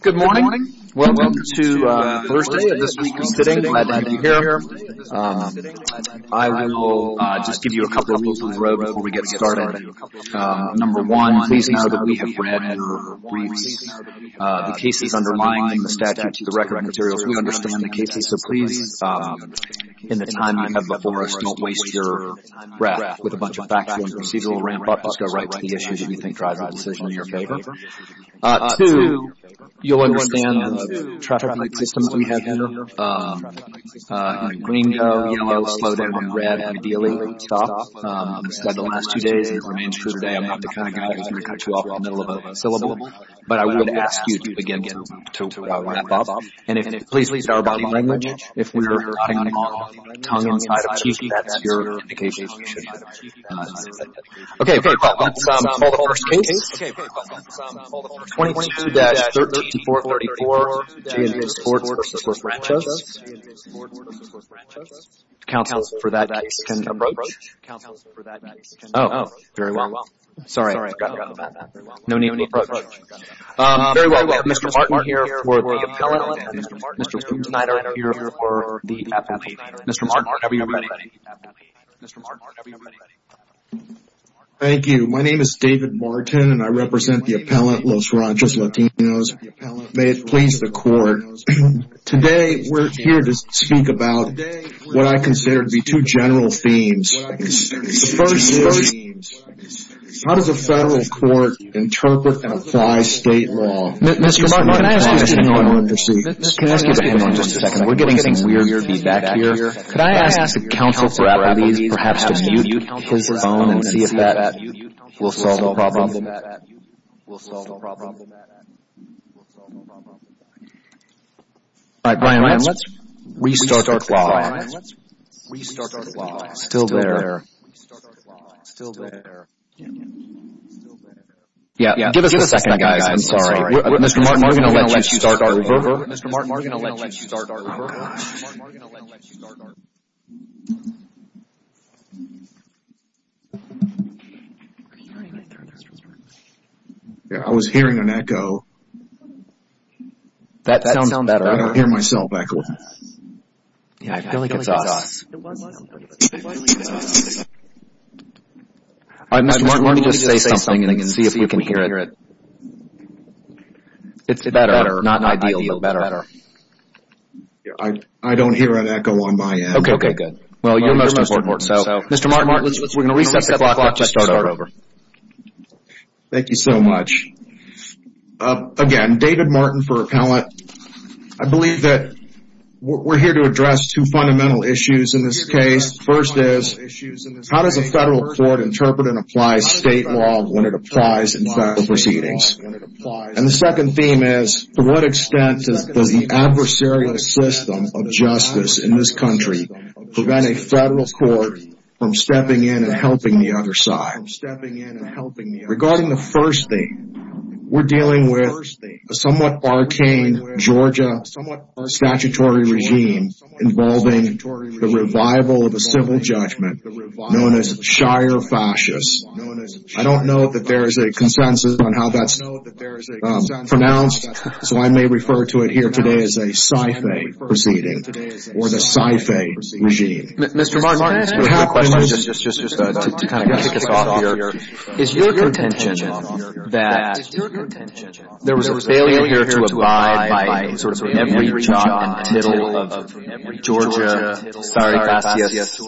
Good morning. Welcome to Thursday of this week's sitting. Glad to have you here. I will just give you a couple of rules of the road before we get started. Number one, please know that we have read your briefs. The case is undermining the statute, the record and materials. We understand the case. So please, in the time you have before us, don't waste your breath with a bunch of factual and procedural ramp-up. Just go right to the issues you think drive the decision in your favor. Two, you'll understand traffic light systems we have here. Green, yellow, slow down, red, ideally stop. I've said it the last two days and it remains true today. I'm not the kind of guy who's going to cut you off in the middle of a syllable. But I will ask you to begin to ramp up. And if, please, at least our body language, if we were hanging on tongue inside of cheeky, that's your indication you should be. Okay, great. Well, that's all the first case. 22-3434, J & J Sports v. Los Ranchos. Counsel for that case can approach. Oh, very well. Sorry, I forgot about that. No need to approach. Very well. We have Mr. Martin here for the appellate. Mr. Kuchnider here for the appellate. Mr. Martin, are you ready? Mr. Martin, are you ready? Thank you. My name is David Martin and I represent the appellate Los Ranchos Latinos. May it please the court. Today we're here to speak about what I consider to be two general themes. The first is how does a federal court interpret and apply state law? Mr. Martin, can I ask you to hang on just a second? We're getting some weird feedback here. Could I ask the counsel for appellate, perhaps, to mute his phone and see if that will solve the problem? All right, Brian, let's restart our clock. Still there. Yeah, give us a second, guys. I'm sorry. Mr. Martin, are we going to let you start our reverberator? Mr. Martin, are we going to let you start our reverberator? Yeah, I was hearing an echo. That sounds better. I hear myself echoing. Yeah, I feel like it's us. All right, Mr. Martin, let me just say something and see if you can hear it. It's better, not ideal, but better. I don't hear an echo on my end. Okay, good. Well, you're most important. Mr. Martin, we're going to reset the clock to start over. Thank you so much. Again, David Martin for appellate. I believe that we're here to address two fundamental issues in this case. The first is, how does a federal court interpret and apply state law when it applies in federal proceedings? And the second theme is, to what extent does the adversarial system of justice in this country prevent a federal court from stepping in and helping the other side? Regarding the first thing, we're dealing with a somewhat arcane Georgia statutory regime involving the revival of a civil judgment known as Shire Fascist. I don't know that there is a consensus on how that's pronounced, so I may refer to it here today as a sci-fi proceeding or the sci-fi regime. Mr. Martin, can I ask you a question just to kind of kick us off here? Is your contention that there was a failure here to abide by sort of every jot and tittle of Georgia Shire Fascist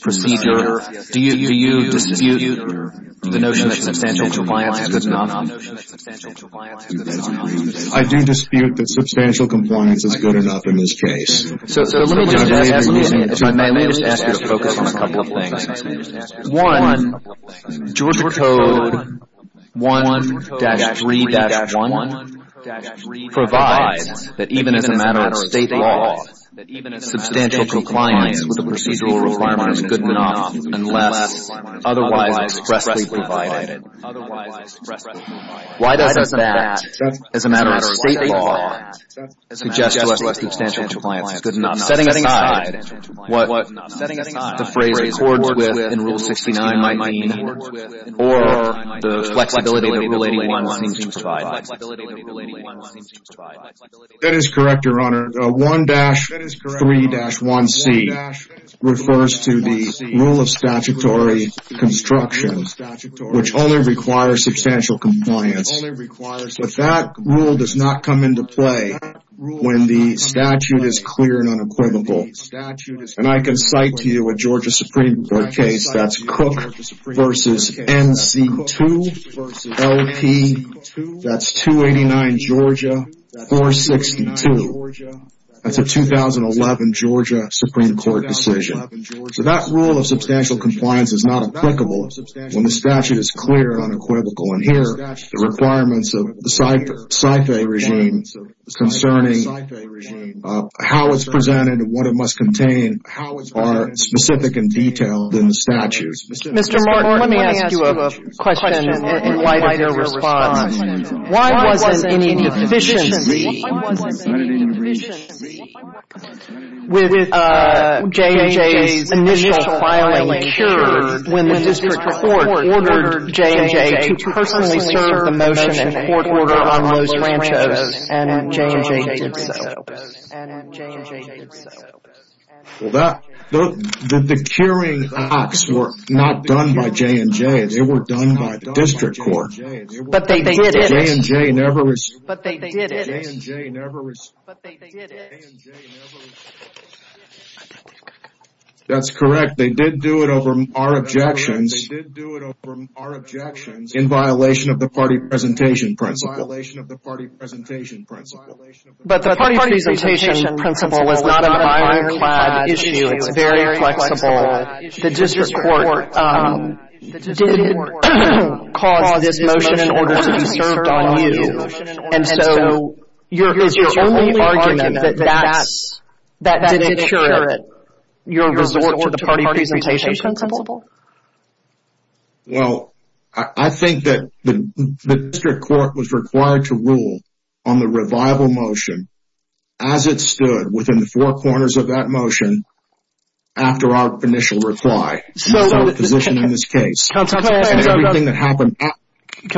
procedure? Do you dispute the notion that substantial compliance is good enough? I do dispute that substantial compliance is good enough in this case. So let me just ask you to focus on a couple of things. One, Georgia Code 1-3-1 provides that even as a matter of state law, substantial compliance with the procedural requirement is good enough unless otherwise expressly provided. Why does that, as a matter of state law, suggest that substantial compliance is good enough, setting aside what the phrase works with in Rule 69 might mean or the flexibility that Rule 81 seems to provide? That is correct, Your Honor. 1-3-1C refers to the rule of statutory construction, which only requires substantial compliance. But that rule does not come into play when the statute is clear and unequivocal. And I can cite to you a Georgia Supreme Court case, that's Cook v. NC2, L.P., that's 289 Georgia, 462. That's a 2011 Georgia Supreme Court decision. So that rule of substantial compliance is not applicable when the statute is clear and unequivocal. And here, the requirements of the CIFA regime concerning how it's presented and what it must contain are specific and detailed in the statute. Mr. Martin, let me ask you a question in light of your response. Why wasn't any divisions with J&J's initial filing cured when the district court ordered J&J to personally serve the motion and court order on Rose Rancho's and J&J did so? Well, the curing acts were not done by J&J. They were done by district court. But they did it. That's correct. They did do it over our objections in violation of the party presentation principle. But the party presentation principle was not a minor issue. It's very flexible. The district court didn't cause this motion in order to be served on you. And so, is your only argument that that didn't cure it? Your resort to the party presentation principle? Well, I think that the district court was required to rule on the revival motion as it stood within the four corners of that motion after our initial reply. So, can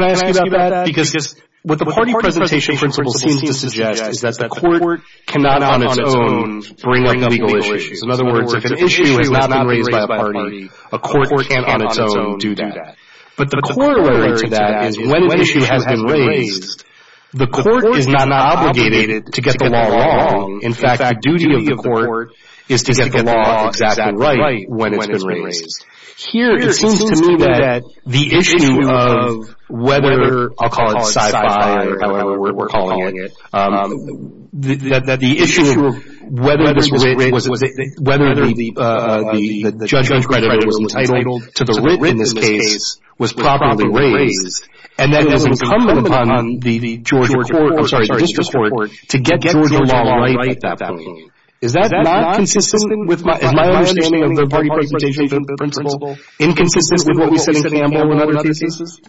I ask you about that? Because what the party presentation principle seems to suggest is that the court cannot on its own bring up legal issues. In other words, if an issue has not been raised by a party, a court can't on its own do that. But the corollary to that is when an issue has been raised, the court is not obligated to get the law wrong. In fact, the duty of the court is to get the law exactly right when it's been raised. Here, it seems to me that the issue of whether, I'll call it sci-fi or however we're calling it, that the issue of whether the judge was entitled to the writ in this case was properly raised, and that it was incumbent upon the Georgia court, I'm sorry, the district court, to get Georgia law right at that point. Is that not consistent with my understanding of the party presentation principle, inconsistent with what we said in Campbell and other cases?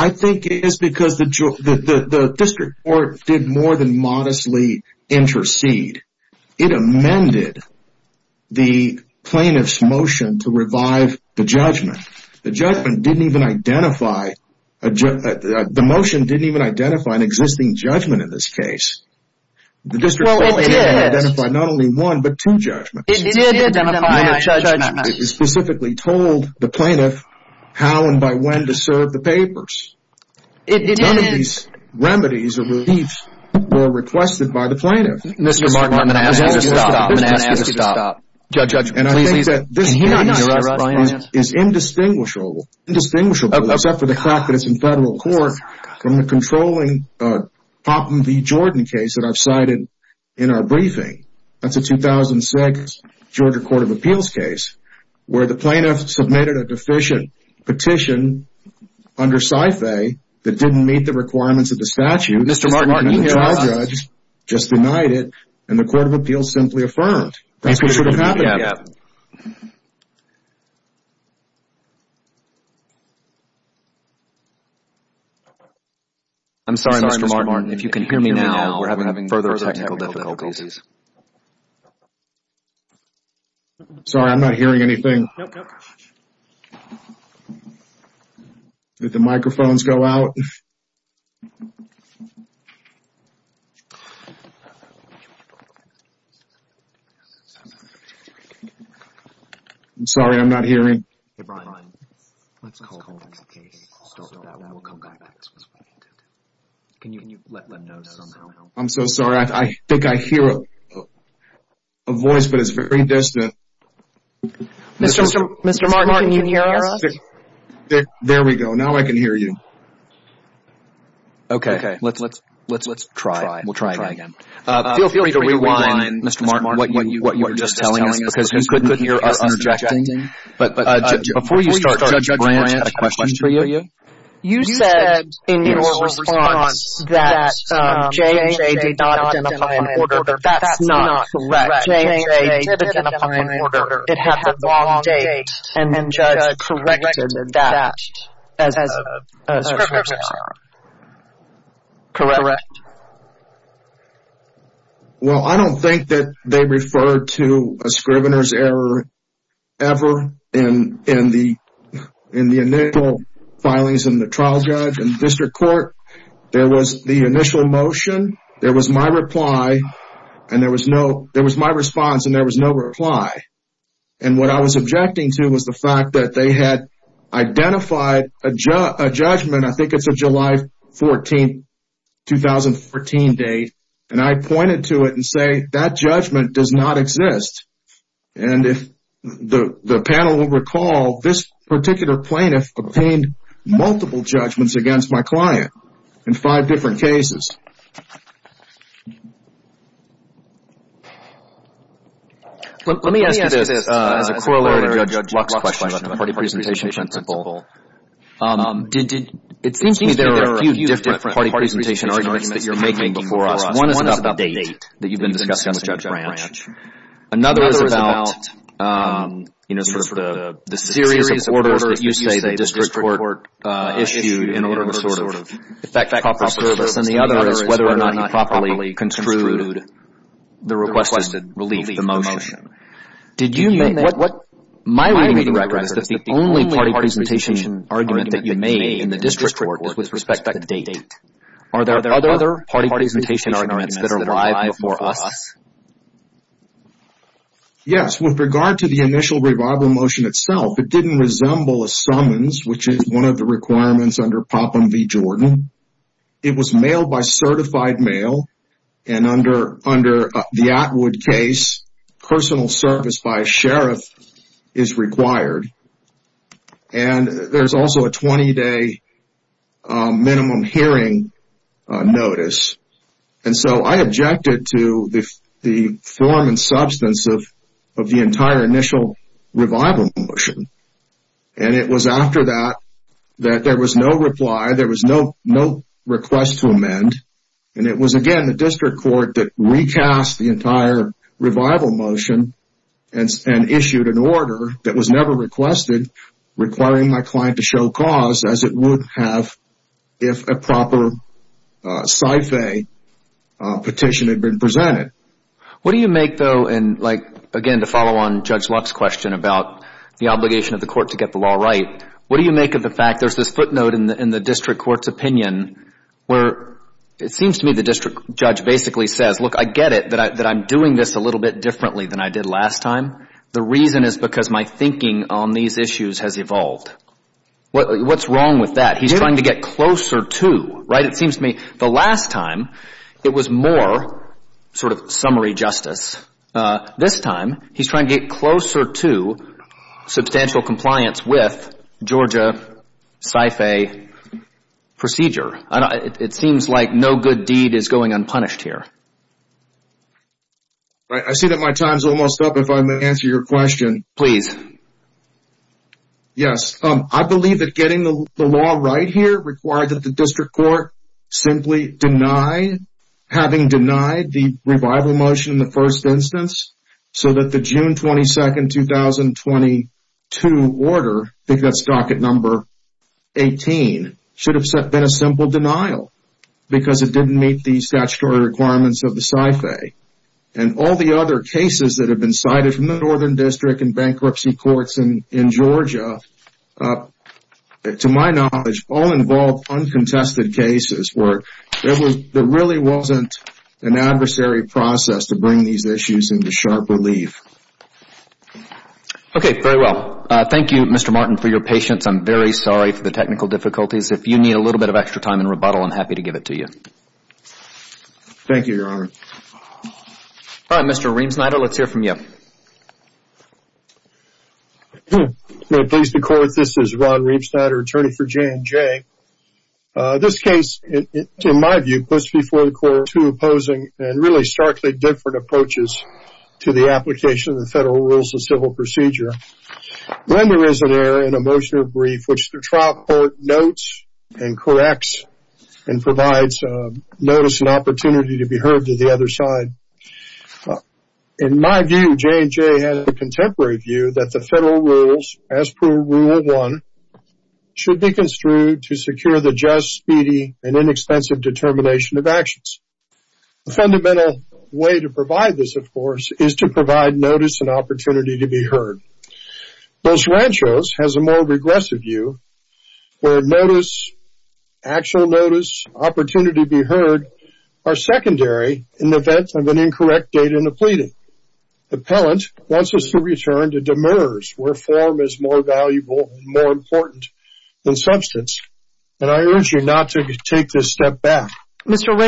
I think it is because the district court did more than modestly intercede. It amended the plaintiff's motion to revive the judgment. The motion didn't even identify an existing judgment in this case. The district court only identified not only one but two judgments. It specifically told the plaintiff how and by when to serve the papers. None of these remedies or reliefs were requested by the plaintiff. Mr. Martin, I'm going to ask you to stop. And I think that this is indistinguishable except for the fact that it's in federal court from the controlling Popham v. Jordan case that I've cited in our briefing. That's a 2006 Georgia court of appeals case where the plaintiff submitted a deficient petition under sci-fi that didn't meet the requirements of the statute. Mr. Martin, you hear us. The trial judge just denied it and the court of appeals simply affirmed. That's what should have happened. I'm sorry, Mr. Martin. If you can hear me now, we're having further technical difficulties. Sorry, I'm not hearing anything. Did the microphones go out? I'm sorry, I'm not hearing. I'm so sorry. I think I hear a voice but it's very distant. Mr. Martin, can you hear us? There we go. Now I can hear you. Okay. Let's try. We'll try again. Feel free to rewind, Mr. Martin, what you were just telling us because you couldn't hear us interjecting. But before you start, Judge Brant, I have a question for you. You said in your response that J&J did not identify an order. That's not correct. J&J did identify an order. It had the wrong date and the judge corrected that as a scrivener's error. Correct. Well, I don't think that they referred to a scrivener's error ever in the initial filings in the trial judge and district court. There was the initial motion. There was my response and there was no reply. And what I was objecting to was the fact that they had identified a judgment. I think it's a July 14, 2014 date. And I pointed to it and say that judgment does not exist. And if the panel will recall, this particular plaintiff obtained multiple judgments against my client in five different cases. Let me ask you this as a corollary to Judge Luck's question about the party presentation principle. It seems to me there are a few different party presentation arguments that you're making before us. One is about the date that you've been discussing with Judge Brant. Another is about, you know, sort of the series of orders that you say the district court issued in order to sort of effect proper service. And the other is whether or not you properly construed the requested relief, the motion. Did you make – my reading of that is that the only party presentation argument that you made in the district court was with respect to the date. Are there other party presentation arguments that are live before us? Yes. With regard to the initial revival motion itself, it didn't resemble a summons, which is one of the requirements under POPM v. Jordan. It was mailed by certified mail. And under the Atwood case, personal service by a sheriff is required. And there's also a 20-day minimum hearing notice. And so I objected to the form and substance of the entire initial revival motion. And it was after that that there was no reply. There was no request to amend. And it was, again, the district court that recast the entire revival motion and issued an order that was never requested requiring my client to show cause as it would have if a proper sci-fi petition had been presented. What do you make, though, and, like, again, to follow on Judge Luck's question about the obligation of the court to get the law right, what do you make of the fact there's this footnote in the district court's opinion where it seems to me the district judge basically says, look, I get it that I'm doing this a little bit differently than I did last time. The reason is because my thinking on these issues has evolved. What's wrong with that? He's trying to get closer to, right? It seems to me the last time it was more sort of summary justice. This time he's trying to get closer to substantial compliance with Georgia sci-fi procedure. It seems like no good deed is going unpunished here. I see that my time's almost up. If I may answer your question. Please. Yes. I believe that getting the law right here required that the district court simply deny, having denied the revival motion in the first instance so that the June 22, 2022 order, I think that's docket number 18, should have been a simple denial because it didn't meet the statutory requirements of the sci-fi. All the other cases that have been cited from the northern district and bankruptcy courts in Georgia, to my knowledge, all involved uncontested cases where there really wasn't an adversary process to bring these issues into sharp relief. Okay. Very well. Thank you, Mr. Martin, for your patience. I'm very sorry for the technical difficulties. If you need a little bit of extra time and rebuttal, I'm happy to give it to you. Thank you, Your Honor. All right, Mr. Ream-Snyder, let's hear from you. May it please the court, this is Ron Ream-Snyder, attorney for J&J. This case, in my view, puts before the court two opposing and really starkly different approaches to the application of the federal rules of civil procedure. When there is an error in a motion of brief, which the trial court notes and corrects and provides notice and opportunity to be heard to the other side, in my view, J&J has a contemporary view that the federal rules, as per Rule 1, should be construed to secure the just, speedy, and inexpensive determination of actions. A fundamental way to provide this, of course, is to provide notice and opportunity to be heard. Bose-Rancho's has a more regressive view where notice, actual notice, opportunity to be heard, are secondary in the event of an incorrect date in the pleading. The appellant wants us to return to demurs, where form is more valuable and more important than substance. And I urge you not to take this step back. Mr.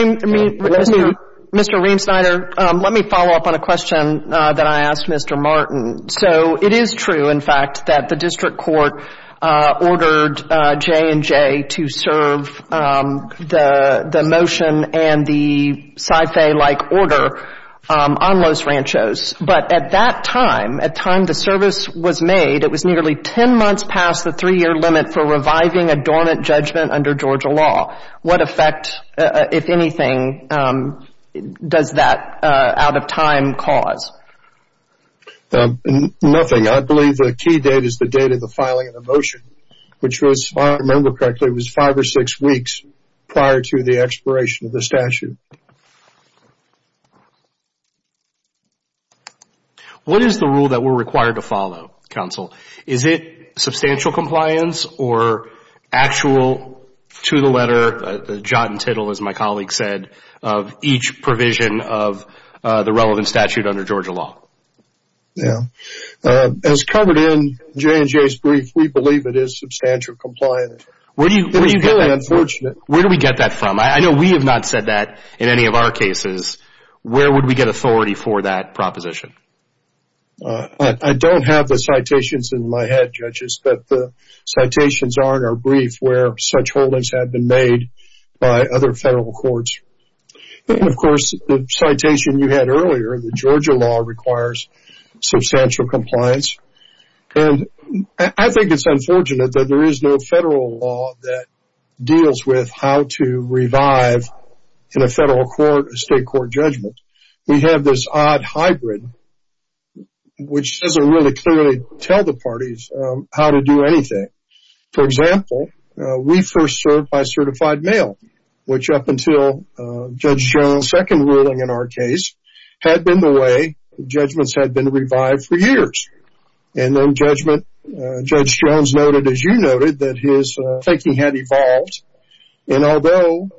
Ream-Snyder, let me follow up on a question that I asked Mr. Martin. So it is true, in fact, that the district court ordered J&J to serve the motion and the Sy-Fay-like order on Los Ranchos. But at that time, at time the service was made, it was nearly 10 months past the three-year limit for reviving a dormant judgment under Georgia law. What effect, if anything, does that out-of-time cause? Nothing. I believe the key date is the date of the filing of the motion, which was, if I remember correctly, was five or six weeks prior to the expiration of the statute. What is the rule that we're required to follow, counsel? Is it substantial compliance or actual to the letter, the jot and tittle, as my colleague said, of each provision of the relevant statute under Georgia law? Yeah. As covered in J&J's brief, we believe it is substantial compliance. Where do you get that? It is very unfortunate. Where do we get that from? I know we have not said that in any of our cases. Where would we get authority for that proposition? I don't have the citations in my head, judges, but the citations are in our brief where such holdings have been made by other federal courts. And, of course, the citation you had earlier, the Georgia law, requires substantial compliance. And I think it's unfortunate that there is no federal law that deals with how to revive in a federal court, a state court judgment. We have this odd hybrid, which doesn't really clearly tell the parties how to do anything. For example, we first served by certified mail, which up until Judge Jones' second ruling in our case had been the way judgments had been revived for years. And then Judge Jones noted, as you noted, that his thinking had evolved. And although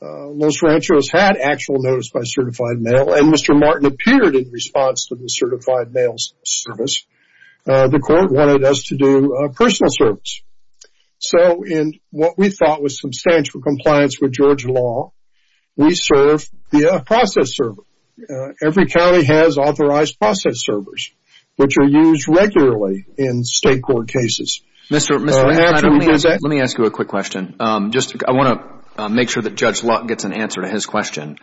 Los Ranchos had actual notice by certified mail, and Mr. Martin appeared in response to the certified mail service, the court wanted us to do personal service. So in what we thought was substantial compliance with Georgia law, we serve via process server. Every county has authorized process servers, which are used regularly in state court cases. Let me ask you a quick question. I want to make sure that Judge Luck gets an answer to his question.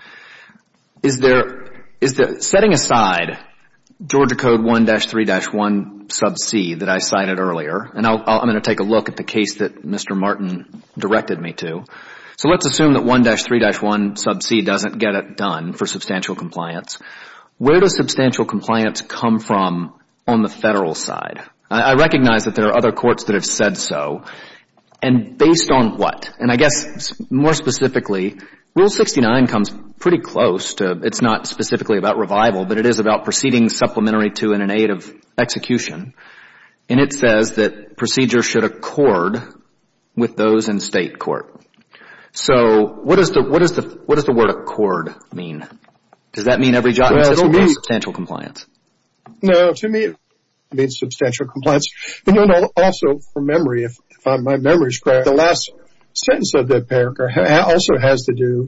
Setting aside Georgia Code 1-3-1 sub c that I cited earlier, and I'm going to take a look at the case that Mr. Martin directed me to. So let's assume that 1-3-1 sub c doesn't get it done for substantial compliance. Where does substantial compliance come from on the federal side? I recognize that there are other courts that have said so. And based on what? And I guess more specifically, Rule 69 comes pretty close to, it's not specifically about revival, but it is about proceeding supplementary to and in aid of execution. And it says that procedures should accord with those in state court. So what does the word accord mean? Does that mean every judgment system has substantial compliance? No, to me it means substantial compliance. And then also from memory, if my memory is correct, the last sentence of that paragraph also has to do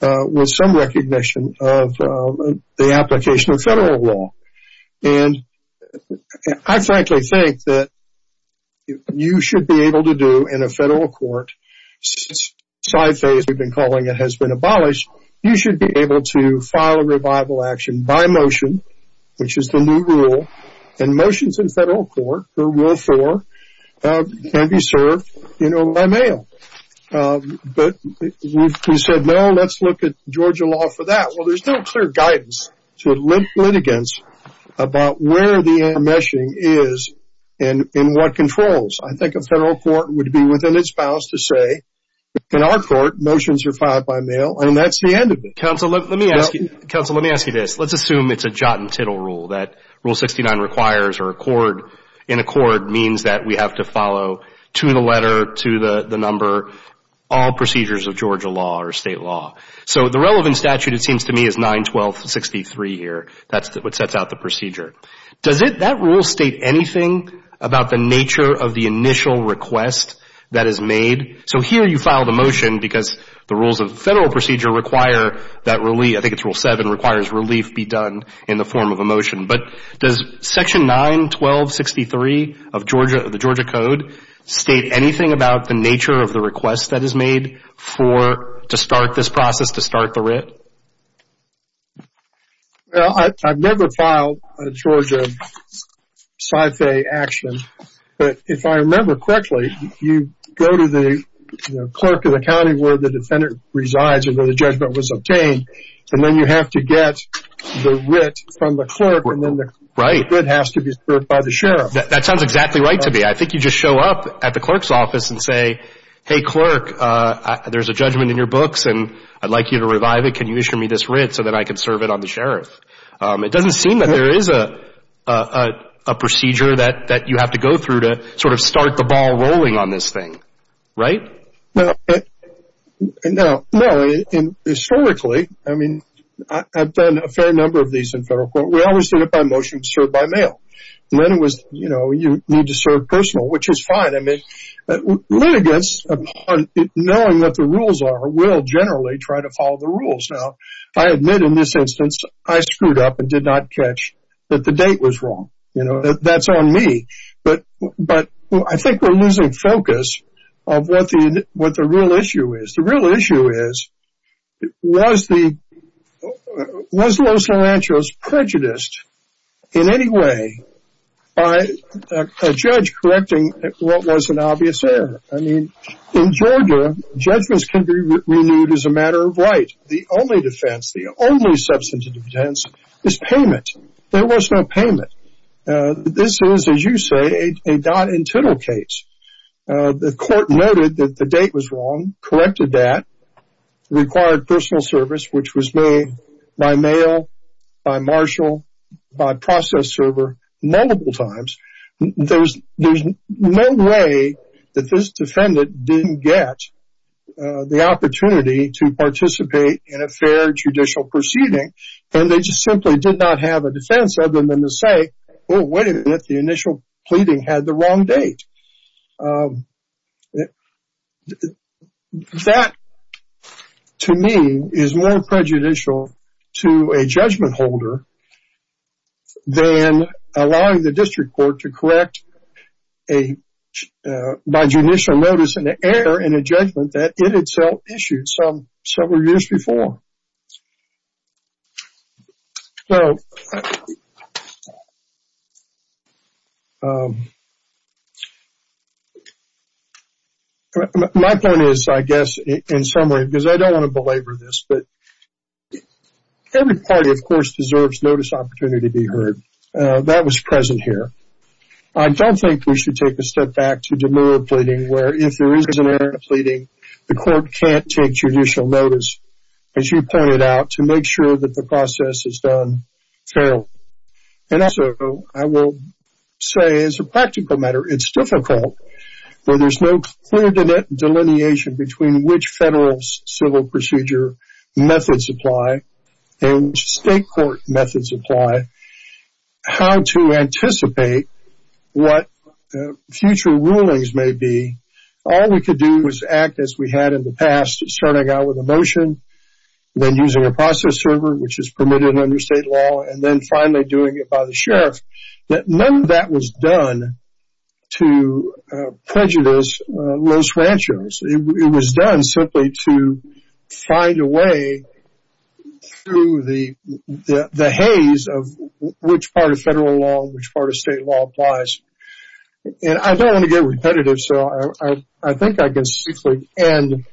with some recognition of the application of federal law. And I frankly think that you should be able to do in a federal court, since side phase we've been calling it has been abolished, you should be able to file a revival action by motion, which is the new rule. And motions in federal court, Rule 4, can be served by mail. But we said, no, let's look at Georgia law for that. Well, there's no clear guidance to litigants about where the enmeshing is and what controls. I think a federal court would be within its bounds to say, in our court, motions are filed by mail. And that's the end of it. Counsel, let me ask you this. Let's assume it's a jot and tittle rule, that Rule 69 requires or in accord means that we have to follow, to the letter, to the number, all procedures of Georgia law or state law. So the relevant statute, it seems to me, is 91263 here. That's what sets out the procedure. Does that rule state anything about the nature of the initial request that is made? So here you file the motion because the rules of federal procedure require that relief. I think it's Rule 7, requires relief be done in the form of a motion. But does Section 91263 of the Georgia Code state anything about the nature of the request that is made to start this process, to start the writ? Well, I've never filed a Georgia sci-fi action. But if I remember correctly, you go to the clerk of the county where the defendant resides or where the judgment was obtained, and then you have to get the writ from the clerk, and then the writ has to be served by the sheriff. That sounds exactly right to me. I think you just show up at the clerk's office and say, hey, clerk, there's a judgment in your books, and I'd like you to revive it. Can you issue me this writ so that I can serve it on the sheriff? It doesn't seem that there is a procedure that you have to go through to sort of start the ball rolling on this thing, right? No. Historically, I mean, I've done a fair number of these in federal court. We always did it by motion, served by mail. Then it was, you know, you need to serve personal, which is fine. I mean, litigants, knowing what the rules are, will generally try to follow the rules. Now, I admit in this instance, I screwed up and did not catch that the date was wrong. You know, that's on me. But I think we're losing focus of what the real issue is. The real issue is, was Los Salanchos prejudiced in any way by a judge correcting what was an obvious error? I mean, in Georgia, judgments can be renewed as a matter of right. The only defense, the only substantive defense is payment. There was no payment. This is, as you say, a dot and tittle case. The court noted that the date was wrong, corrected that, required personal service, which was made by mail, by marshal, by process server, multiple times. There's no way that this defendant didn't get the opportunity to participate in a fair judicial proceeding. And they just simply did not have a defense other than to say, oh, wait a minute, the initial pleading had the wrong date. That, to me, is more prejudicial to a judgment holder than allowing the district court to correct by judicial notice an error in a judgment that it itself issued several years before. So, my point is, I guess, in summary, because I don't want to belabor this, but every party, of course, deserves notice of opportunity to be heard. That was present here. I don't think we should take a step back to demurral pleading, where if there is an error in a pleading, the court can't take judicial notice. As you pointed out, to make sure that the process is done fairly. And also, I will say, as a practical matter, it's difficult when there's no clear delineation between which federal civil procedure methods apply and state court methods apply. How to anticipate what future rulings may be. All we could do was act as we had in the past, starting out with a motion, then using a process server, which is permitted under state law, and then finally doing it by the sheriff. But none of that was done to prejudice Los Ranchos. It was done simply to find a way through the haze of which part of federal law and which part of state law applies. And I don't want to get repetitive, so I think I can simply end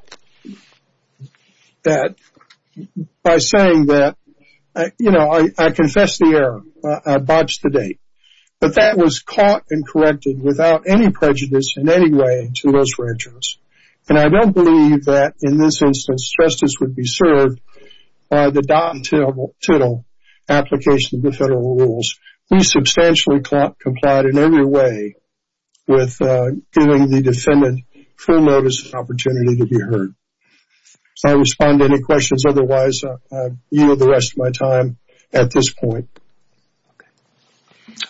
that by saying that, you know, I confess the error. I botched the date. But that was caught and corrected without any prejudice in any way to Los Ranchos. And I don't believe that, in this instance, justice would be served by the dot and tittle application of the federal rules. We substantially complied in every way with giving the defendant full notice and opportunity to be heard. If I respond to any questions otherwise, you know the rest of my time at this point.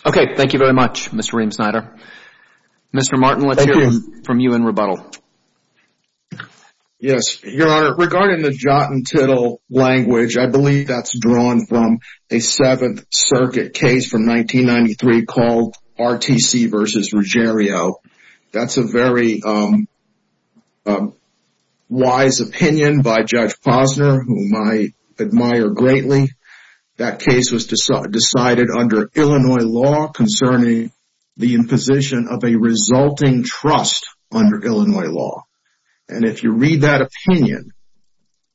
Okay, thank you very much, Mr. Ream-Snyder. Mr. Martin, let's hear from you in rebuttal. Yes, Your Honor. Regarding the jot and tittle language, I believe that's drawn from a Seventh Circuit case from 1993 called RTC v. Ruggiero. That's a very wise opinion by Judge Posner, whom I admire greatly. That case was decided under Illinois law concerning the imposition of a resulting trust under Illinois law. And if you read that opinion,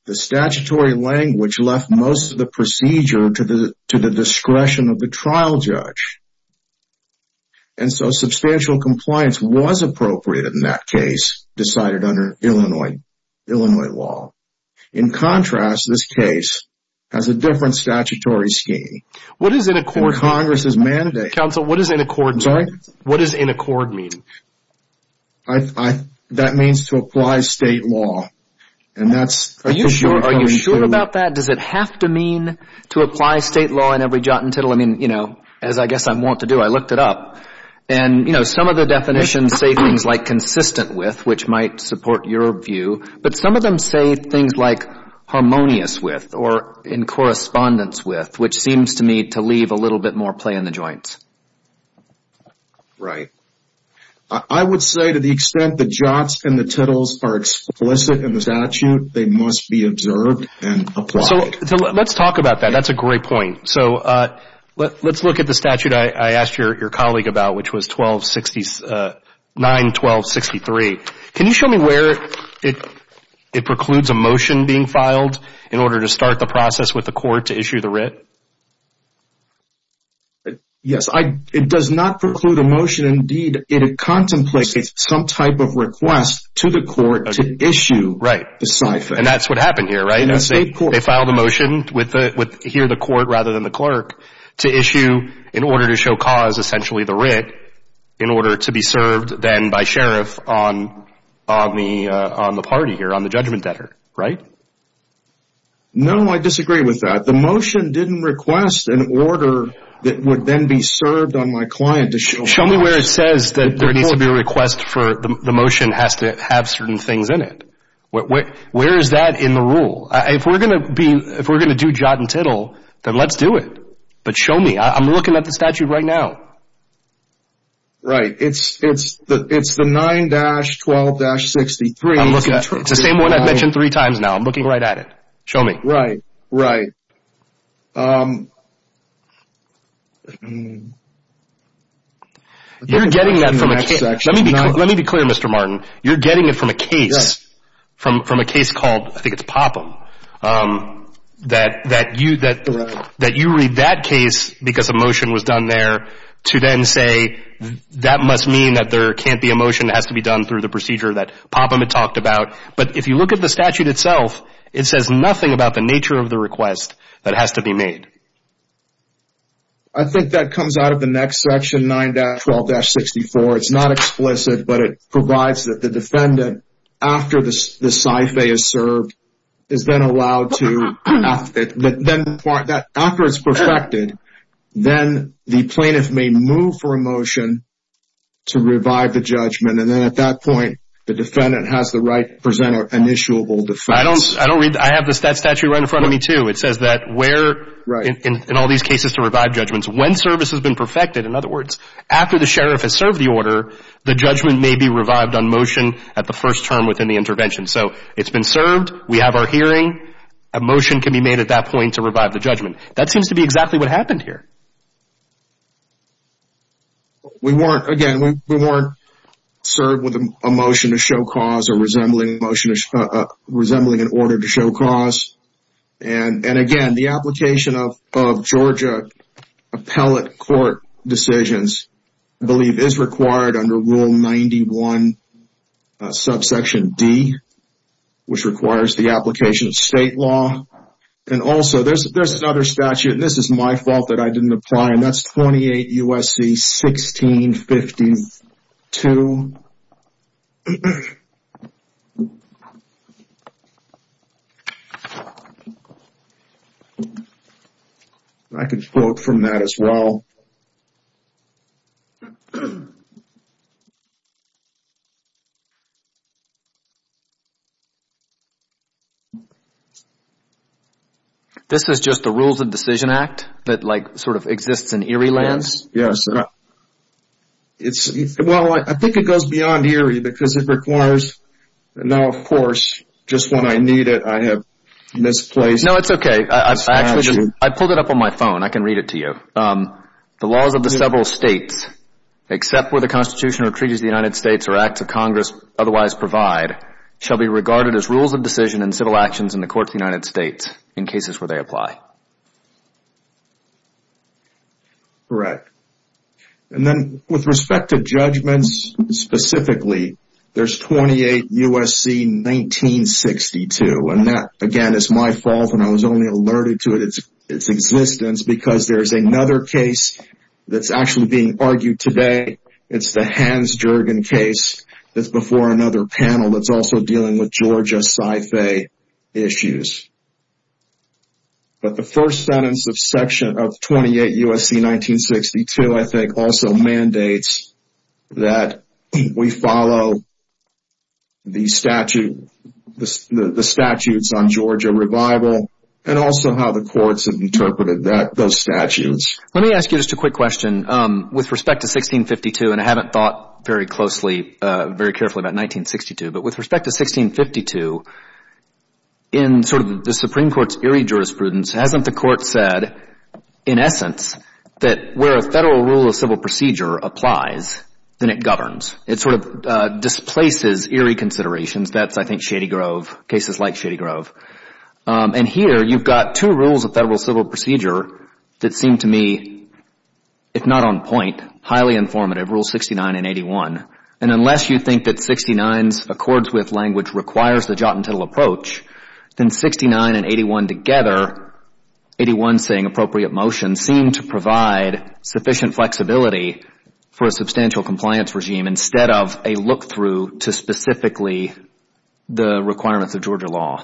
the statutory language left most of the procedure to the discretion of the trial judge. And so substantial compliance was appropriate in that case, decided under Illinois law. In contrast, this case has a different statutory scheme. What does an accord mean? Counsel, what does an accord mean? That means to apply state law. Are you sure about that? Does it have to mean to apply state law in every jot and tittle? Well, I mean, you know, as I guess I want to do, I looked it up. And, you know, some of the definitions say things like consistent with, which might support your view. But some of them say things like harmonious with or in correspondence with, which seems to me to leave a little bit more play in the joints. Right. I would say to the extent the jots and the tittles are explicit in the statute, they must be observed and applied. So let's talk about that. That's a great point. So let's look at the statute I asked your colleague about, which was 9-12-63. Can you show me where it precludes a motion being filed in order to start the process with the court to issue the writ? Yes. It does not preclude a motion. Indeed, it contemplates some type of request to the court to issue the cipher. Right. And that's what happened here, right? They filed a motion with here the court rather than the clerk to issue, in order to show cause, essentially the writ, in order to be served then by sheriff on the party here, on the judgment debtor, right? No, I disagree with that. The motion didn't request an order that would then be served on my client to show cause. Show me where it says that there needs to be a request for the motion has to have certain things in it. Where is that in the rule? If we're going to do jot and tittle, then let's do it. But show me. I'm looking at the statute right now. Right. It's the 9-12-63. It's the same one I've mentioned three times now. I'm looking right at it. Show me. Right, right. You're getting that from a case. Let me be clear, Mr. Martin. You're getting it from a case, from a case called, I think it's Popham, that you read that case because a motion was done there to then say that must mean that there can't be a motion that has to be done through the procedure that Popham had talked about. But if you look at the statute itself, it says nothing about the nature of the request that has to be made. I think that comes out of the next section, 9-12-64. It's not explicit, but it provides that the defendant, after the syphe is served, is then allowed to, after it's perfected, then the plaintiff may move for a motion to revive the judgment. And then at that point, the defendant has the right to present an issuable defense. I don't read that. I have the statute right in front of me, too. It says that where, in all these cases, to revive judgments. When service has been perfected, in other words, after the sheriff has served the order, the judgment may be revived on motion at the first term within the intervention. So it's been served. We have our hearing. A motion can be made at that point to revive the judgment. That seems to be exactly what happened here. We weren't, again, we weren't served with a motion to show cause or resembling an order to show cause. And again, the application of Georgia appellate court decisions, I believe, is required under Rule 91, subsection D, which requires the application of state law. And also, there's another statute, and this is my fault that I didn't apply, and that's 28 U.S.C. 1652. I can quote from that as well. This is just the Rules of Decision Act that, like, sort of exists in Erie lands? Yes. Well, I think it goes beyond Erie because it requires, now, of course, just when I need it, I have misplaced. No, it's okay. I actually just, I pulled it up on my phone. I can read it to you. The laws of the several states, except where the Constitution or treaties of the United States or acts of Congress otherwise provide, shall be regarded as rules of decision and civil actions in the court of the United States in cases where they apply. Correct. And then, with respect to judgments specifically, there's 28 U.S.C. 1962, and that, again, is my fault, and I was only alerted to its existence because there's another case that's actually being argued today. It's the Hans Jergen case that's before another panel that's also dealing with Georgia sci-fi issues. But the first sentence of Section of 28 U.S.C. 1962, I think, also mandates that we follow the statutes on Georgia revival and also how the courts have interpreted those statutes. Let me ask you just a quick question. With respect to 1652, and I haven't thought very closely, very carefully about 1962, but with respect to 1652, in sort of the Supreme Court's eerie jurisprudence, hasn't the court said, in essence, that where a federal rule of civil procedure applies, then it governs? It sort of displaces eerie considerations. That's, I think, Shady Grove, cases like Shady Grove. And here, you've got two rules of federal civil procedure that seem to me, if not on point, highly informative, Rule 69 and 81. And unless you think that 69's accords with language requires the jot and tittle approach, then 69 and 81 together, 81 saying appropriate motion, seem to provide sufficient flexibility for a substantial compliance regime instead of a look-through to specifically the requirements of Georgia law.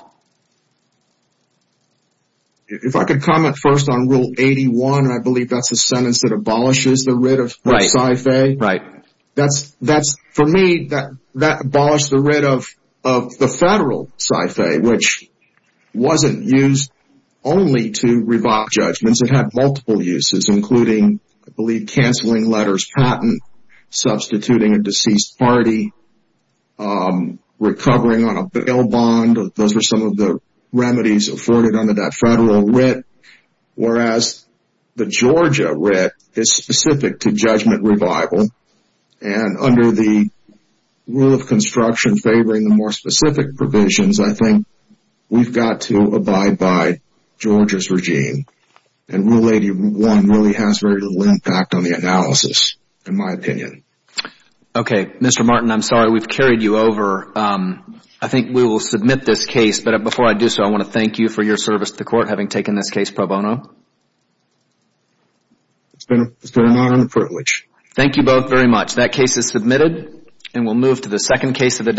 If I could comment first on Rule 81, I believe that's the sentence that abolishes the writ of sci-fi. Right. That's, for me, that abolished the writ of the federal sci-fi, which wasn't used only to revoke judgments. It had multiple uses, including, I believe, canceling letters patent, substituting a deceased party, recovering on a bail bond. Those were some of the remedies afforded under that federal writ, whereas the Georgia writ is specific to judgment revival. And under the rule of construction favoring the more specific provisions, I think we've got to abide by Georgia's regime. And Rule 81 really has very little impact on the analysis, in my opinion. Okay. Mr. Martin, I'm sorry we've carried you over. I think we will submit this case. But before I do so, I want to thank you for your service to the court, having taken this case pro bono. It's been an honor and a privilege. Thank you both very much. That case is submitted, and we'll move to the second case of the day.